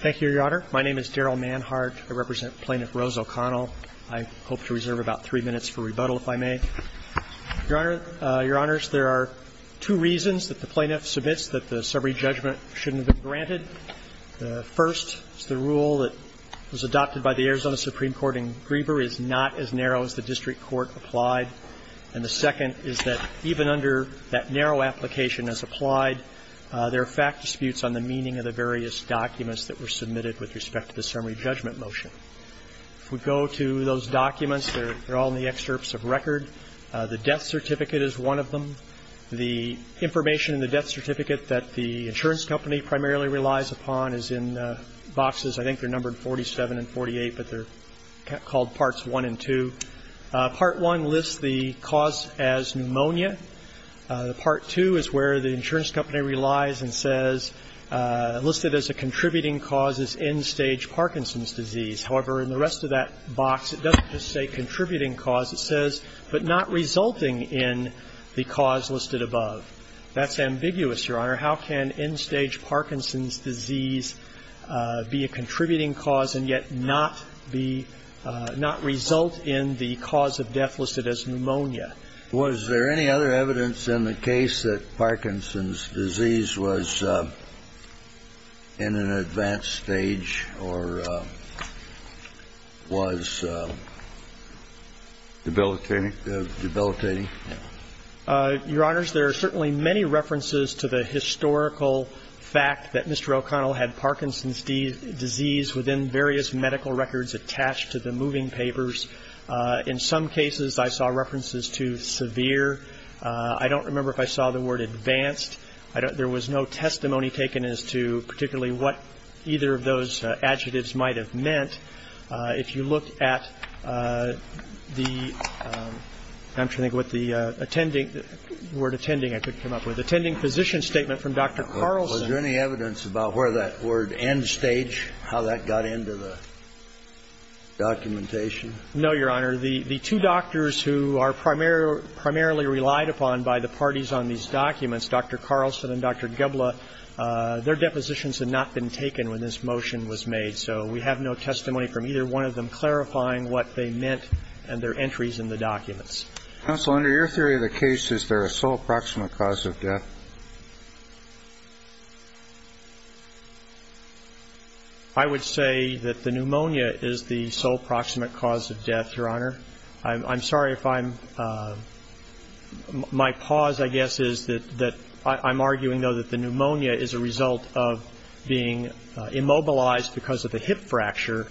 Thank you, Your Honor. My name is Daryl Manhart. I represent Plaintiff Rose O'Connell. I hope to reserve about three minutes for rebuttal, if I may. Your Honor, Your Honors, there are two reasons that the plaintiff submits that the summary judgment shouldn't have been granted. The first is the rule that was adopted by the Arizona Supreme Court in Griever is not as narrow as the district court applied. And the second is that even under that narrow application as applied, there are fact disputes on the meaning of the various documents that were submitted with respect to the summary judgment motion. If we go to those documents, they're all in the excerpts of record. The death certificate is one of them. The information in the death certificate that the insurance company primarily relies upon is in boxes, I think they're numbered 47 and 48, but they're called parts 1 and 2. Part 1 lists the cause as pneumonia. Part 2 is where the insurance company relies and says listed as a contributing cause is end-stage Parkinson's disease. However, in the rest of that box, it doesn't just say contributing cause. It says, but not resulting in the cause listed above. That's ambiguous, Your Honor. How can end-stage Parkinson's disease be a contributing cause and yet not be – not result in the cause of death listed as pneumonia? Was there any other evidence in the case that Parkinson's disease was in an advanced stage or was debilitating? Your Honors, there are certainly many references to the historical fact that Mr. O'Connell had Parkinson's disease within various medical records attached to the moving papers. In some cases, I saw references to severe. I don't remember if I saw the word advanced. There was no testimony taken as to particularly what either of those adjectives might have meant. If you look at the – I'm trying to think what the attending – the word attending I couldn't come up with. Attending physician statement from Dr. Carlson. Was there any evidence about where that word end-stage, how that got into the documentation? No, Your Honor. The two doctors who are primarily relied upon by the parties on these documents, Dr. Carlson and Dr. Goebbeler, their depositions had not been taken when this motion was made. So we have no testimony from either one of them clarifying what they meant and their entries in the documents. Counsel, under your theory of the case, is there a sole proximate cause of death? I would say that the pneumonia is the sole proximate cause of death, Your Honor. I'm sorry if I'm – my pause, I guess, is that I'm arguing, though, that the pneumonia is a result of being immobilized because of the hip fracture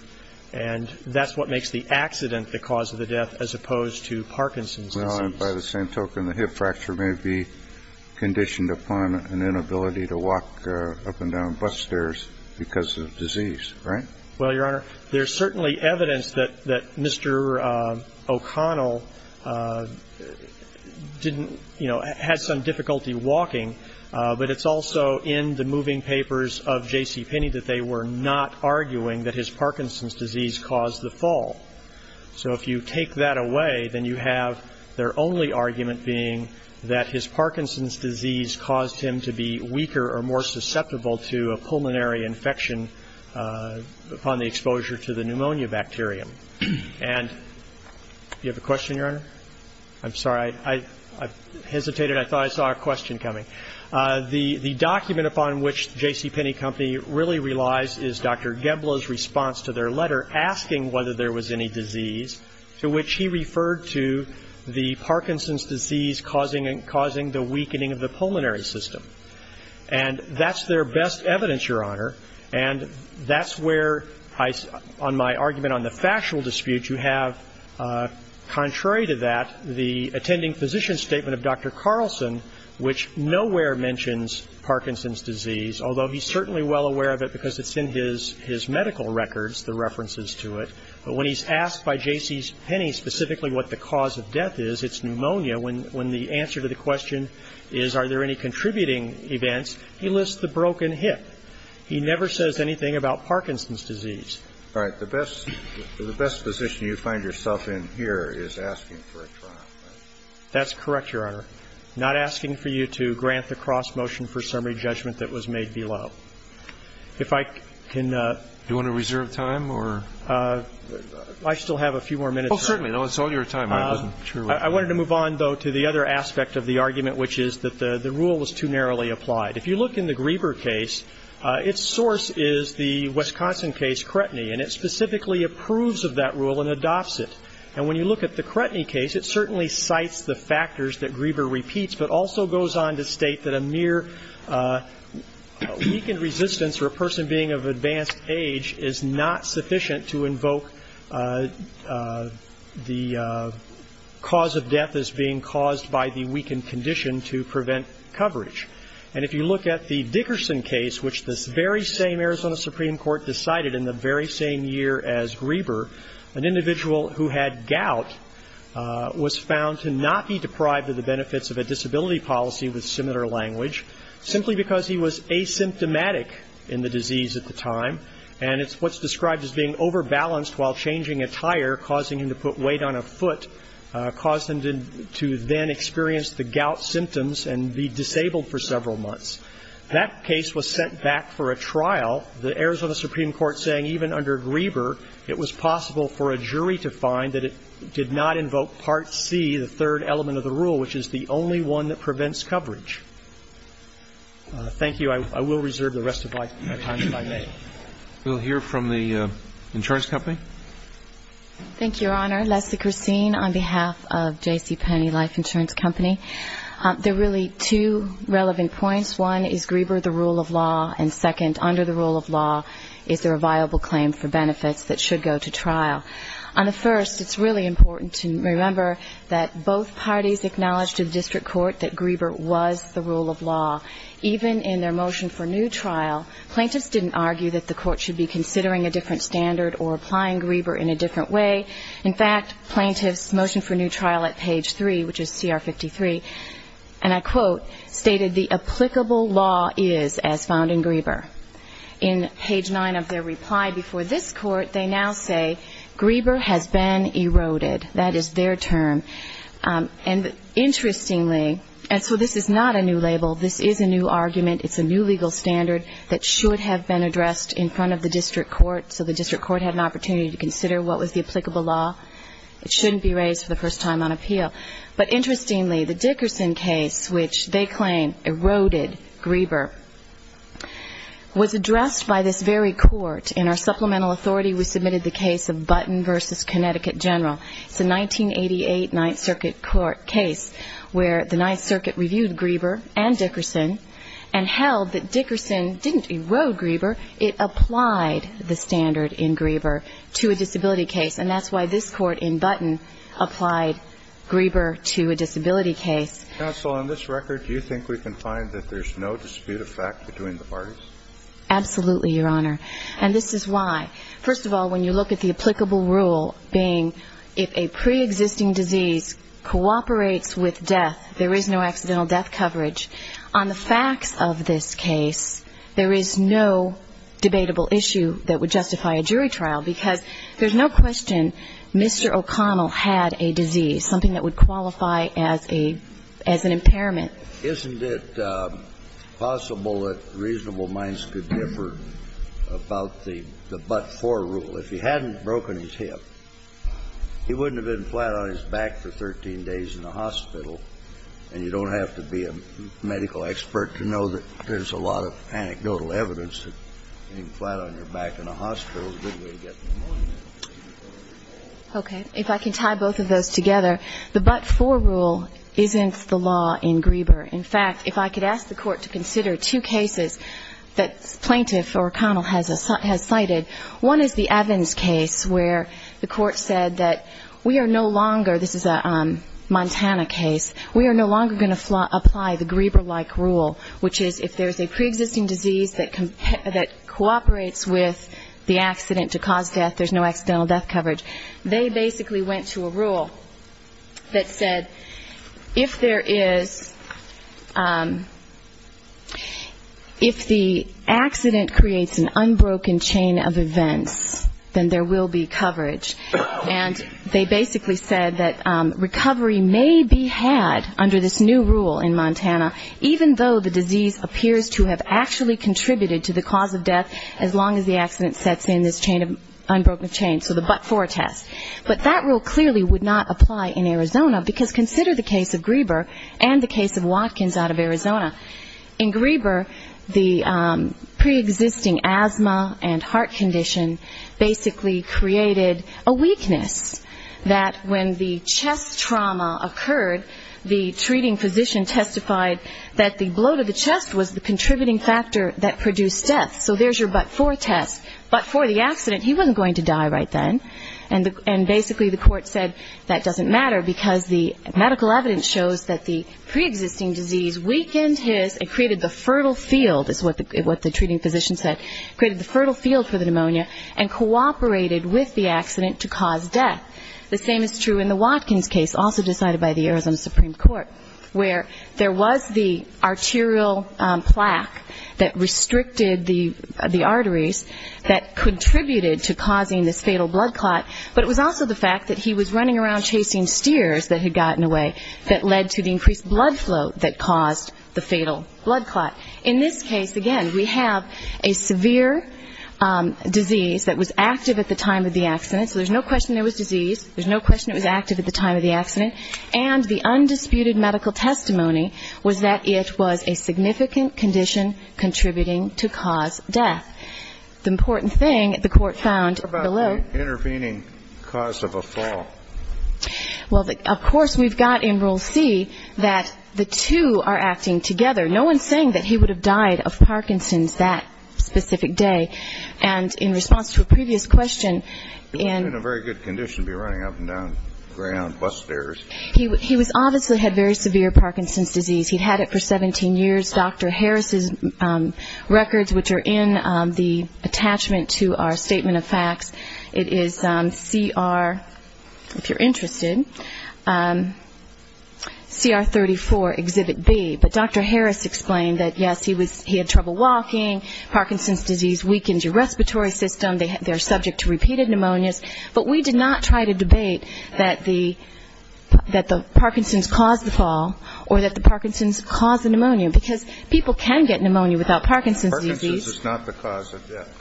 and that's what makes the accident the cause of the death as opposed to Parkinson's disease. No, and by the same token, the hip fracture may be conditioned upon an inability to walk up and down bus stairs because of disease, right? Well, Your Honor, there's certainly evidence that Mr. O'Connell didn't – you know, had some difficulty walking, but it's also in the moving papers of J.C. Penny that they were not arguing that his Parkinson's disease caused the fall. So if you take that away, then you have their only argument being that his Parkinson's disease caused him to be weaker or more susceptible to a pulmonary infection upon the exposure to the pneumonia bacterium. And do you have a question, Your Honor? I'm sorry, I hesitated. I thought I saw a question coming. The document upon which J.C. Penny Company really relies is Dr. Gebloh's response to their letter asking whether there was any disease to which he referred to the Parkinson's disease causing the weakening of the pulmonary system. And that's their best evidence, Your Honor, and that's where on my argument on the factual dispute you have, contrary to that, the attending physician's statement of Dr. Carlson, which nowhere mentions Parkinson's disease, although he's certainly well aware of it because it's in his medical records, the references to it. But when he's asked by J.C.'s Penny specifically what the cause of death is, it's pneumonia. When the answer to the question is, are there any contributing events, he lists the broken hip. He never says anything about Parkinson's disease. All right. The best position you find yourself in here is asking for a trial. That's correct, Your Honor. Not asking for you to grant the cross-motion for summary judgment that was made below. If I can ---- Do you want to reserve time or ---- I still have a few more minutes. Oh, certainly. It's all your time. I wasn't sure ---- I wanted to move on, though, to the other aspect of the argument, which is that the rule was too narrowly applied. If you look in the Grieber case, its source is the Wisconsin case, Cretny, and it specifically approves of that rule and adopts it. And when you look at the Cretny case, it certainly cites the factors that Grieber repeats, but also goes on to state that a mere weakened resistance or a person being of advanced age is not sufficient to invoke the cause of death as being caused by the weakened condition to prevent coverage. And if you look at the Dickerson case, which this very same Arizona Supreme Court decided in the very same year as Grieber, an individual who had gout was found to not be deprived of the benefits of a disability policy with similar language, simply because he was asymptomatic in the disease at the time, and it's what's described as being overbalanced while changing attire, causing him to put weight on a foot, caused him to then experience the gout symptoms and be disabled for several months. That case was sent back for a trial, the Arizona Supreme Court saying even under Grieber, it was possible for a jury to find that it did not invoke Part C, the third element of the rule, which is the only one that prevents coverage. Thank you. I will reserve the rest of my time if I may. We'll hear from the insurance company. Thank you, Your Honor. Leslie Christine on behalf of J.C. Penney Life Insurance Company. There are really two relevant points. One is Grieber the rule of law, and second, under the rule of law, is there a viable claim for benefits that should go to trial? On the first, it's really important to remember that both parties acknowledged to the district court that Grieber was the rule of law. Even in their motion for new trial, plaintiffs didn't argue that the court should be considering a different standard or applying Grieber in a different way. In fact, plaintiffs' motion for new trial at page 3, which is CR 53, and I quote, stated the applicable law is as found in Grieber. In page 9 of their reply before this court, they now say, Grieber has been eroded. That is their term. And interestingly, and so this is not a new label. This is a new argument. It's a new legal standard that should have been addressed in front of the district court so the district court had an opportunity to consider what was the applicable law. It shouldn't be raised for the first time on appeal. But interestingly, the Dickerson case, which they claim eroded Grieber, was addressed by this very court. In our supplemental authority, we submitted the case of Button v. Connecticut General. It's a 1988 Ninth Circuit court case where the Ninth Circuit reviewed Grieber and Dickerson and held that Dickerson didn't erode Grieber. It applied the standard in Grieber to a disability case. And that's why this court in Button applied Grieber to a disability case. Counsel, on this record, do you think we can find that there's no dispute of fact between the parties? Absolutely, Your Honor. And this is why. First of all, when you look at the applicable rule being if a preexisting disease cooperates with death, there is no accidental death coverage, on the facts of this case, there is no debatable issue that would justify a jury trial, because there's no question Mr. O'Connell had a disease, something that would qualify as a as an impairment. Isn't it possible that reasonable minds could differ about the Butt-for rule? If he hadn't broken his hip, he wouldn't have been flat on his back for 13 days in the hospital, and you don't have to be a medical expert to know that there's a lot of anecdotal evidence that getting flat on your back in a hospital is a good way to get pneumonia. Okay. If I can tie both of those together, the Butt-for rule isn't the law in Grieber. In fact, if I could ask the Court to consider two cases that Plaintiff O'Connell has cited, one is the Evans case where the Court said that we are no longer, this is a Montana case, we are no longer going to apply the Grieber-like rule, which is if there's a preexisting disease that cooperates with the accident to cause death, there's no accidental death coverage. They basically went to a rule that said if there is, if the accident creates an unbroken chain of events, then there will be coverage. And they basically said that recovery may be had under this new rule in Montana, even though the disease appears to have actually contributed to the cause of death as long as the accident sets in this chain of, unbroken chain, so the Butt-for test. But that rule clearly would not apply in Arizona, because consider the case of Grieber and the case of Watkins out of Arizona. In Grieber, the preexisting asthma and heart condition basically created a weakness that when the chest trauma occurred, the treating physician testified that the blow to the chest was the contributing factor that produced death. So there's your Butt-for test. But for the accident, he wasn't going to die right then. And basically the Court said that doesn't matter, because the medical evidence shows that the preexisting disease weakened his, it created the fertile field, is what the treating physician said, created the fertile field for the pneumonia and cooperated with the accident to cause death. The same is true in the Watkins case, also decided by the Arizona Supreme Court, where there was the arterial plaque that restricted the arteries that contributed to causing this fatal blood clot, but it was also the fact that he was running around chasing steers that had gotten away that led to the increased blood flow that caused the fatal blood clot. In this case, again, we have a severe disease that was active at the time of the accident, so there's no question there was disease, there's no question it was active at the time of the accident, and the undisputed medical testimony was that it was a significant condition contributing to cause death. The important thing, the Court found below ---- Of course, we've got in Rule C that the two are acting together. No one's saying that he would have died of Parkinson's that specific day. And in response to a previous question in ---- He was in a very good condition to be running up and down bus stairs. He obviously had very severe Parkinson's disease. He'd had it for 17 years. Dr. Harris's records, which are in the attachment to our statement of facts, it is CR, if you're interested, CR 34, Exhibit B. But Dr. Harris explained that, yes, he had trouble walking, Parkinson's disease weakens your respiratory system, they're subject to repeated pneumonias, but we did not try to debate that the Parkinson's caused the fall or that the Parkinson's caused the pneumonia, because people can get pneumonia without Parkinson's disease. So this is not the cause of death.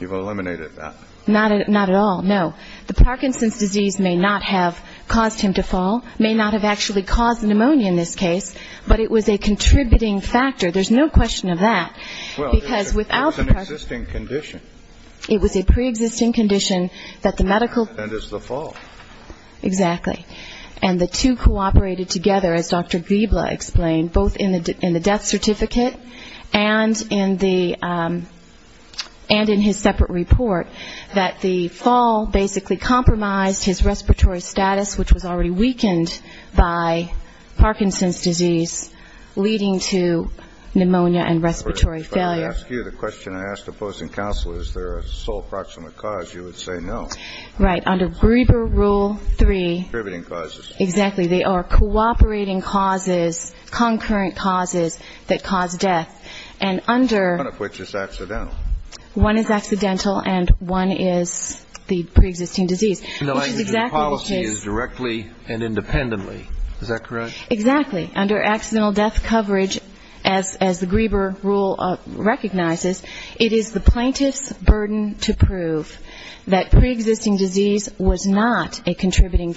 You've eliminated that. Not at all, no. The Parkinson's disease may not have caused him to fall, may not have actually caused pneumonia in this case, but it was a contributing factor. There's no question of that, because without ---- Well, it was an existing condition. It was a preexisting condition that the medical ---- And it's the fall. Exactly. And the two cooperated together, as Dr. Gribla explained, both in the death certificate and in the ---- and in his separate report, that the fall basically compromised his respiratory status, which was already weakened by Parkinson's disease, leading to pneumonia and respiratory failure. If I were to ask you the question I asked a posting counselor, is there a sole proximate cause, you would say no. Right. Under Gribla Rule 3 ---- Contributing causes. Exactly. They are cooperating causes, concurrent causes that cause death. And under ---- One of which is accidental. One is accidental, and one is the preexisting disease, which is exactly what is ---- The language of the policy is directly and independently. Is that correct? Exactly. Under accidental death coverage, as the Gribla Rule recognizes, it is the plaintiff's responsibility to determine whether or not there is a preexisting disease contributing.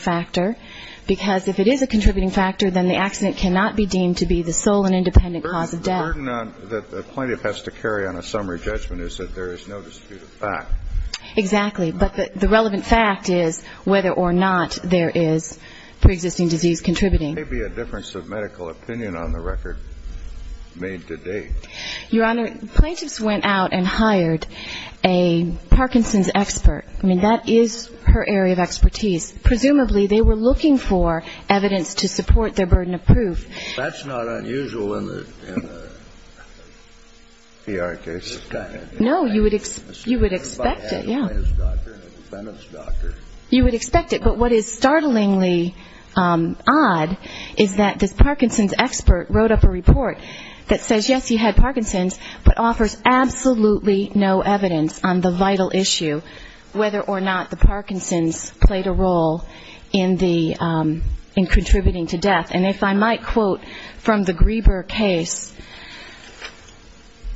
Because if it is a contributing factor, then the accident cannot be deemed to be the sole and independent cause of death. The burden that the plaintiff has to carry on a summary judgment is that there is no dispute of fact. Exactly. But the relevant fact is whether or not there is preexisting disease contributing. There may be a difference of medical opinion on the record made to date. Your Honor, plaintiffs went out and hired a Parkinson's expert. I mean, that is her area of expertise. Presumably, they were looking for evidence to support their burden of proof. That's not unusual in the PR case. No, you would expect it, yes. Everybody has a plaintiff's doctor and a defendant's doctor. You would expect it. But what is startlingly odd is that this Parkinson's expert wrote up a report that says, yes, you had Parkinson's, but offers absolutely no evidence on the vital issue, whether or not the Parkinson's played a role in contributing to death. And if I might quote from the Grieber case,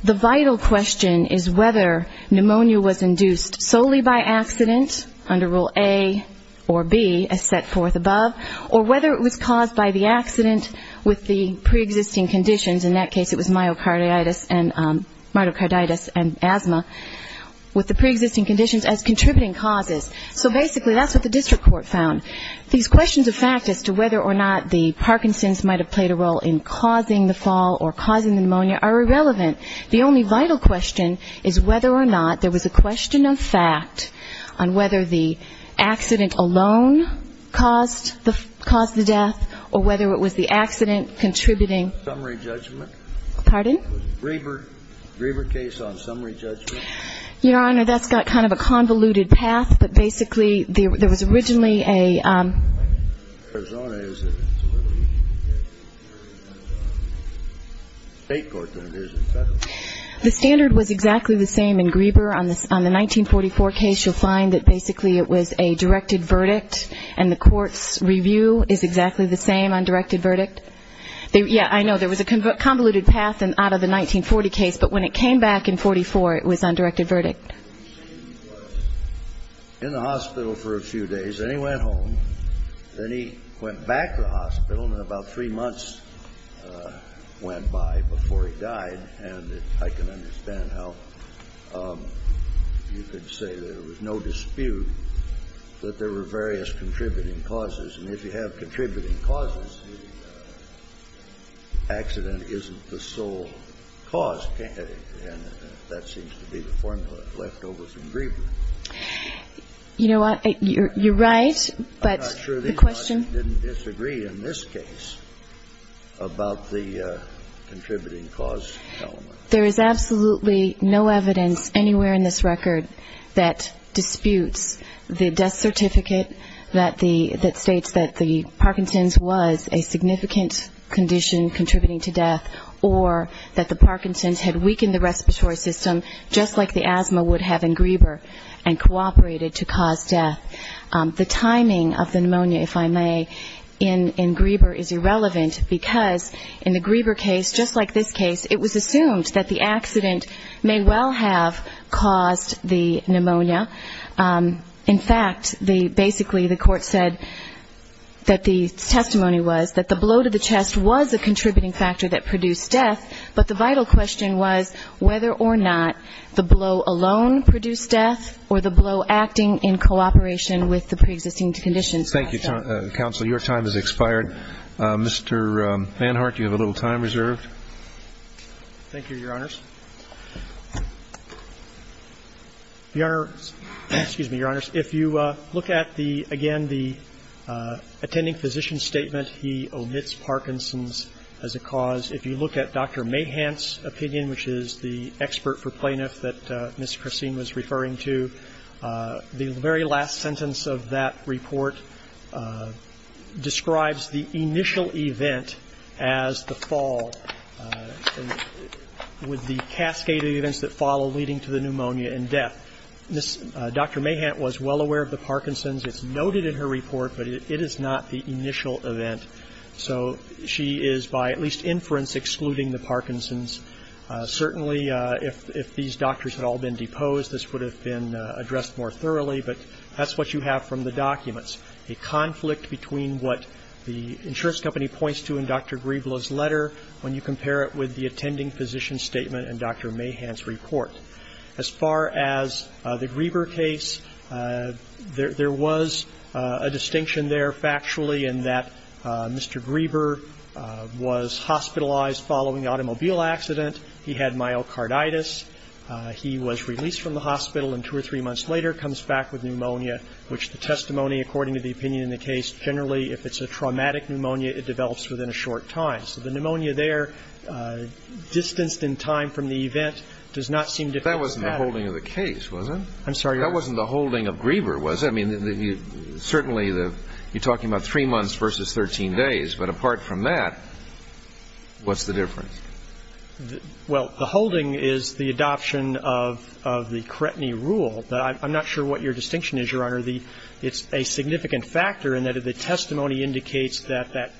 the vital question is whether pneumonia was induced solely by accident, under Rule A or B, as set forth above, or whether it was caused by the accident with the preexisting conditions. In that case, it was myocarditis and asthma. With the preexisting conditions as contributing causes. So basically, that's what the district court found. These questions of fact as to whether or not the Parkinson's might have played a role in causing the fall or causing the pneumonia are irrelevant. The only vital question is whether or not there was a question of fact on whether the accident alone caused the death or whether it was the accident contributing. Summary judgment. Pardon? Grieber case on summary judgment. Your Honor, that's got kind of a convoluted path. But basically, there was originally a... Arizona is a state court, isn't it? The standard was exactly the same in Grieber. On the 1944 case, you'll find that basically it was a directed verdict. And the court's review is exactly the same on directed verdict. Yeah, I know. There was a convoluted path out of the 1940 case. But when it came back in 1944, it was on directed verdict. In the hospital for a few days. Then he went home. Then he went back to the hospital. And about three months went by before he died. And I can understand how you could say there was no dispute that there were various contributing causes. And if you have contributing causes, the accident isn't the sole cause, can it? And that seems to be the formula left over from Grieber. You know what? You're right, but the question... I'm not sure the audience didn't disagree in this case about the contributing cause element. There is absolutely no evidence anywhere in this record that disputes the death certificate that states that the Parkinson's was a significant condition contributing to death or that the Parkinson's had weakened the respiratory system just like the asthma would have in Grieber and cooperated to cause death. The timing of the pneumonia, if I may, in Grieber is irrelevant because in the Grieber case, just like this case, it was assumed that the accident may well have caused the death. And basically the Court said that the testimony was that the blow to the chest was a contributing factor that produced death, but the vital question was whether or not the blow alone produced death or the blow acting in cooperation with the preexisting conditions. Thank you, counsel. Your time has expired. Mr. Van Hart, you have a little time reserved. Thank you, Your Honors. Your Honor, excuse me, Your Honors. If you look at the attending physician's statement, he omits Parkinson's as a cause. If you look at Dr. Mahant's opinion, which is the expert for plaintiff that Ms. Christine was referring to, the very last sentence of that report describes the initial event as the fall with the cascade of events that follow leading to the pneumonia and death. Dr. Mahant was well aware of the Parkinson's. It's noted in her report, but it is not the initial event. So she is, by at least inference, excluding the Parkinson's. Certainly if these doctors had all been deposed, this would have been addressed more thoroughly, but that's what you have from the documents, a conflict between what the insurance company points to in Dr. Griebel's letter when you compare it with the Parkinson's. The Griebel case, there was a distinction there factually in that Mr. Griebel was hospitalized following the automobile accident. He had myocarditis. He was released from the hospital, and two or three months later comes back with pneumonia, which the testimony, according to the opinion in the case, generally if it's a traumatic pneumonia, it develops within a short time. So the pneumonia there distanced in time from the event does not seem to matter. That wasn't the holding of the case, was it? I'm sorry, Your Honor. That wasn't the holding of Griebel, was it? I mean, certainly you're talking about three months versus 13 days, but apart from that, what's the difference? Well, the holding is the adoption of the cretiny rule. I'm not sure what your distinction is, Your Honor. It's a significant factor in that the testimony indicates that that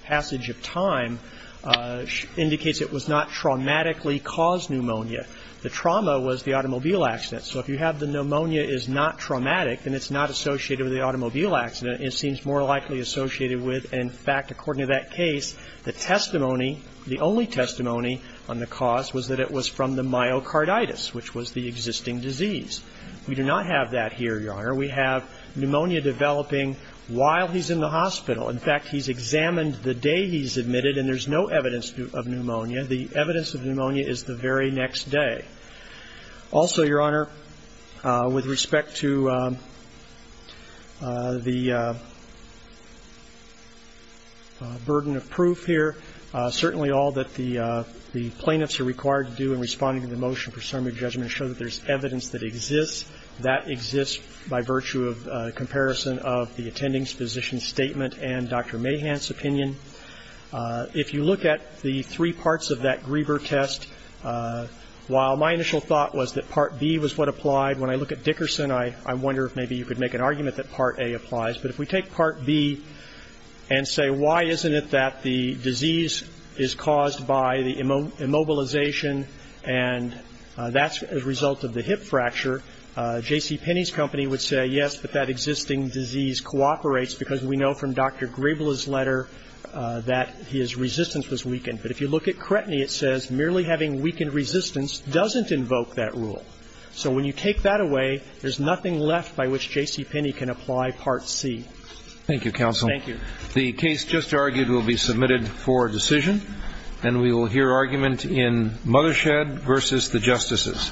was not traumatically caused pneumonia. The trauma was the automobile accident. So if you have the pneumonia is not traumatic, then it's not associated with the automobile accident. It seems more likely associated with, in fact, according to that case, the testimony, the only testimony on the cause was that it was from the myocarditis, which was the existing disease. We do not have that here, Your Honor. We have pneumonia developing while he's in the hospital. In fact, he's examined the day he's admitted, and there's no evidence of pneumonia. The evidence of pneumonia is the very next day. Also, Your Honor, with respect to the burden of proof here, certainly all that the plaintiffs are required to do in responding to the motion for summary judgment show that there's evidence that exists. That exists by virtue of comparison of the attending physician's statement and Dr. If you look at the three parts of that Grieber test, while my initial thought was that Part B was what applied, when I look at Dickerson, I wonder if maybe you could make an argument that Part A applies. But if we take Part B and say, Why isn't it that the disease is caused by the immobilization, and that's a result of the hip fracture, J.C. Penney's company would say, Yes, but that existing disease cooperates, because we know from Dr. Griebel's letter that his resistance was weakened. But if you look at Cretny, it says merely having weakened resistance doesn't invoke that rule. So when you take that away, there's nothing left by which J.C. Penney can apply Part C. Thank you, counsel. Thank you. The case just argued will be submitted for decision, and we will hear argument in Mothershed v. The Justices.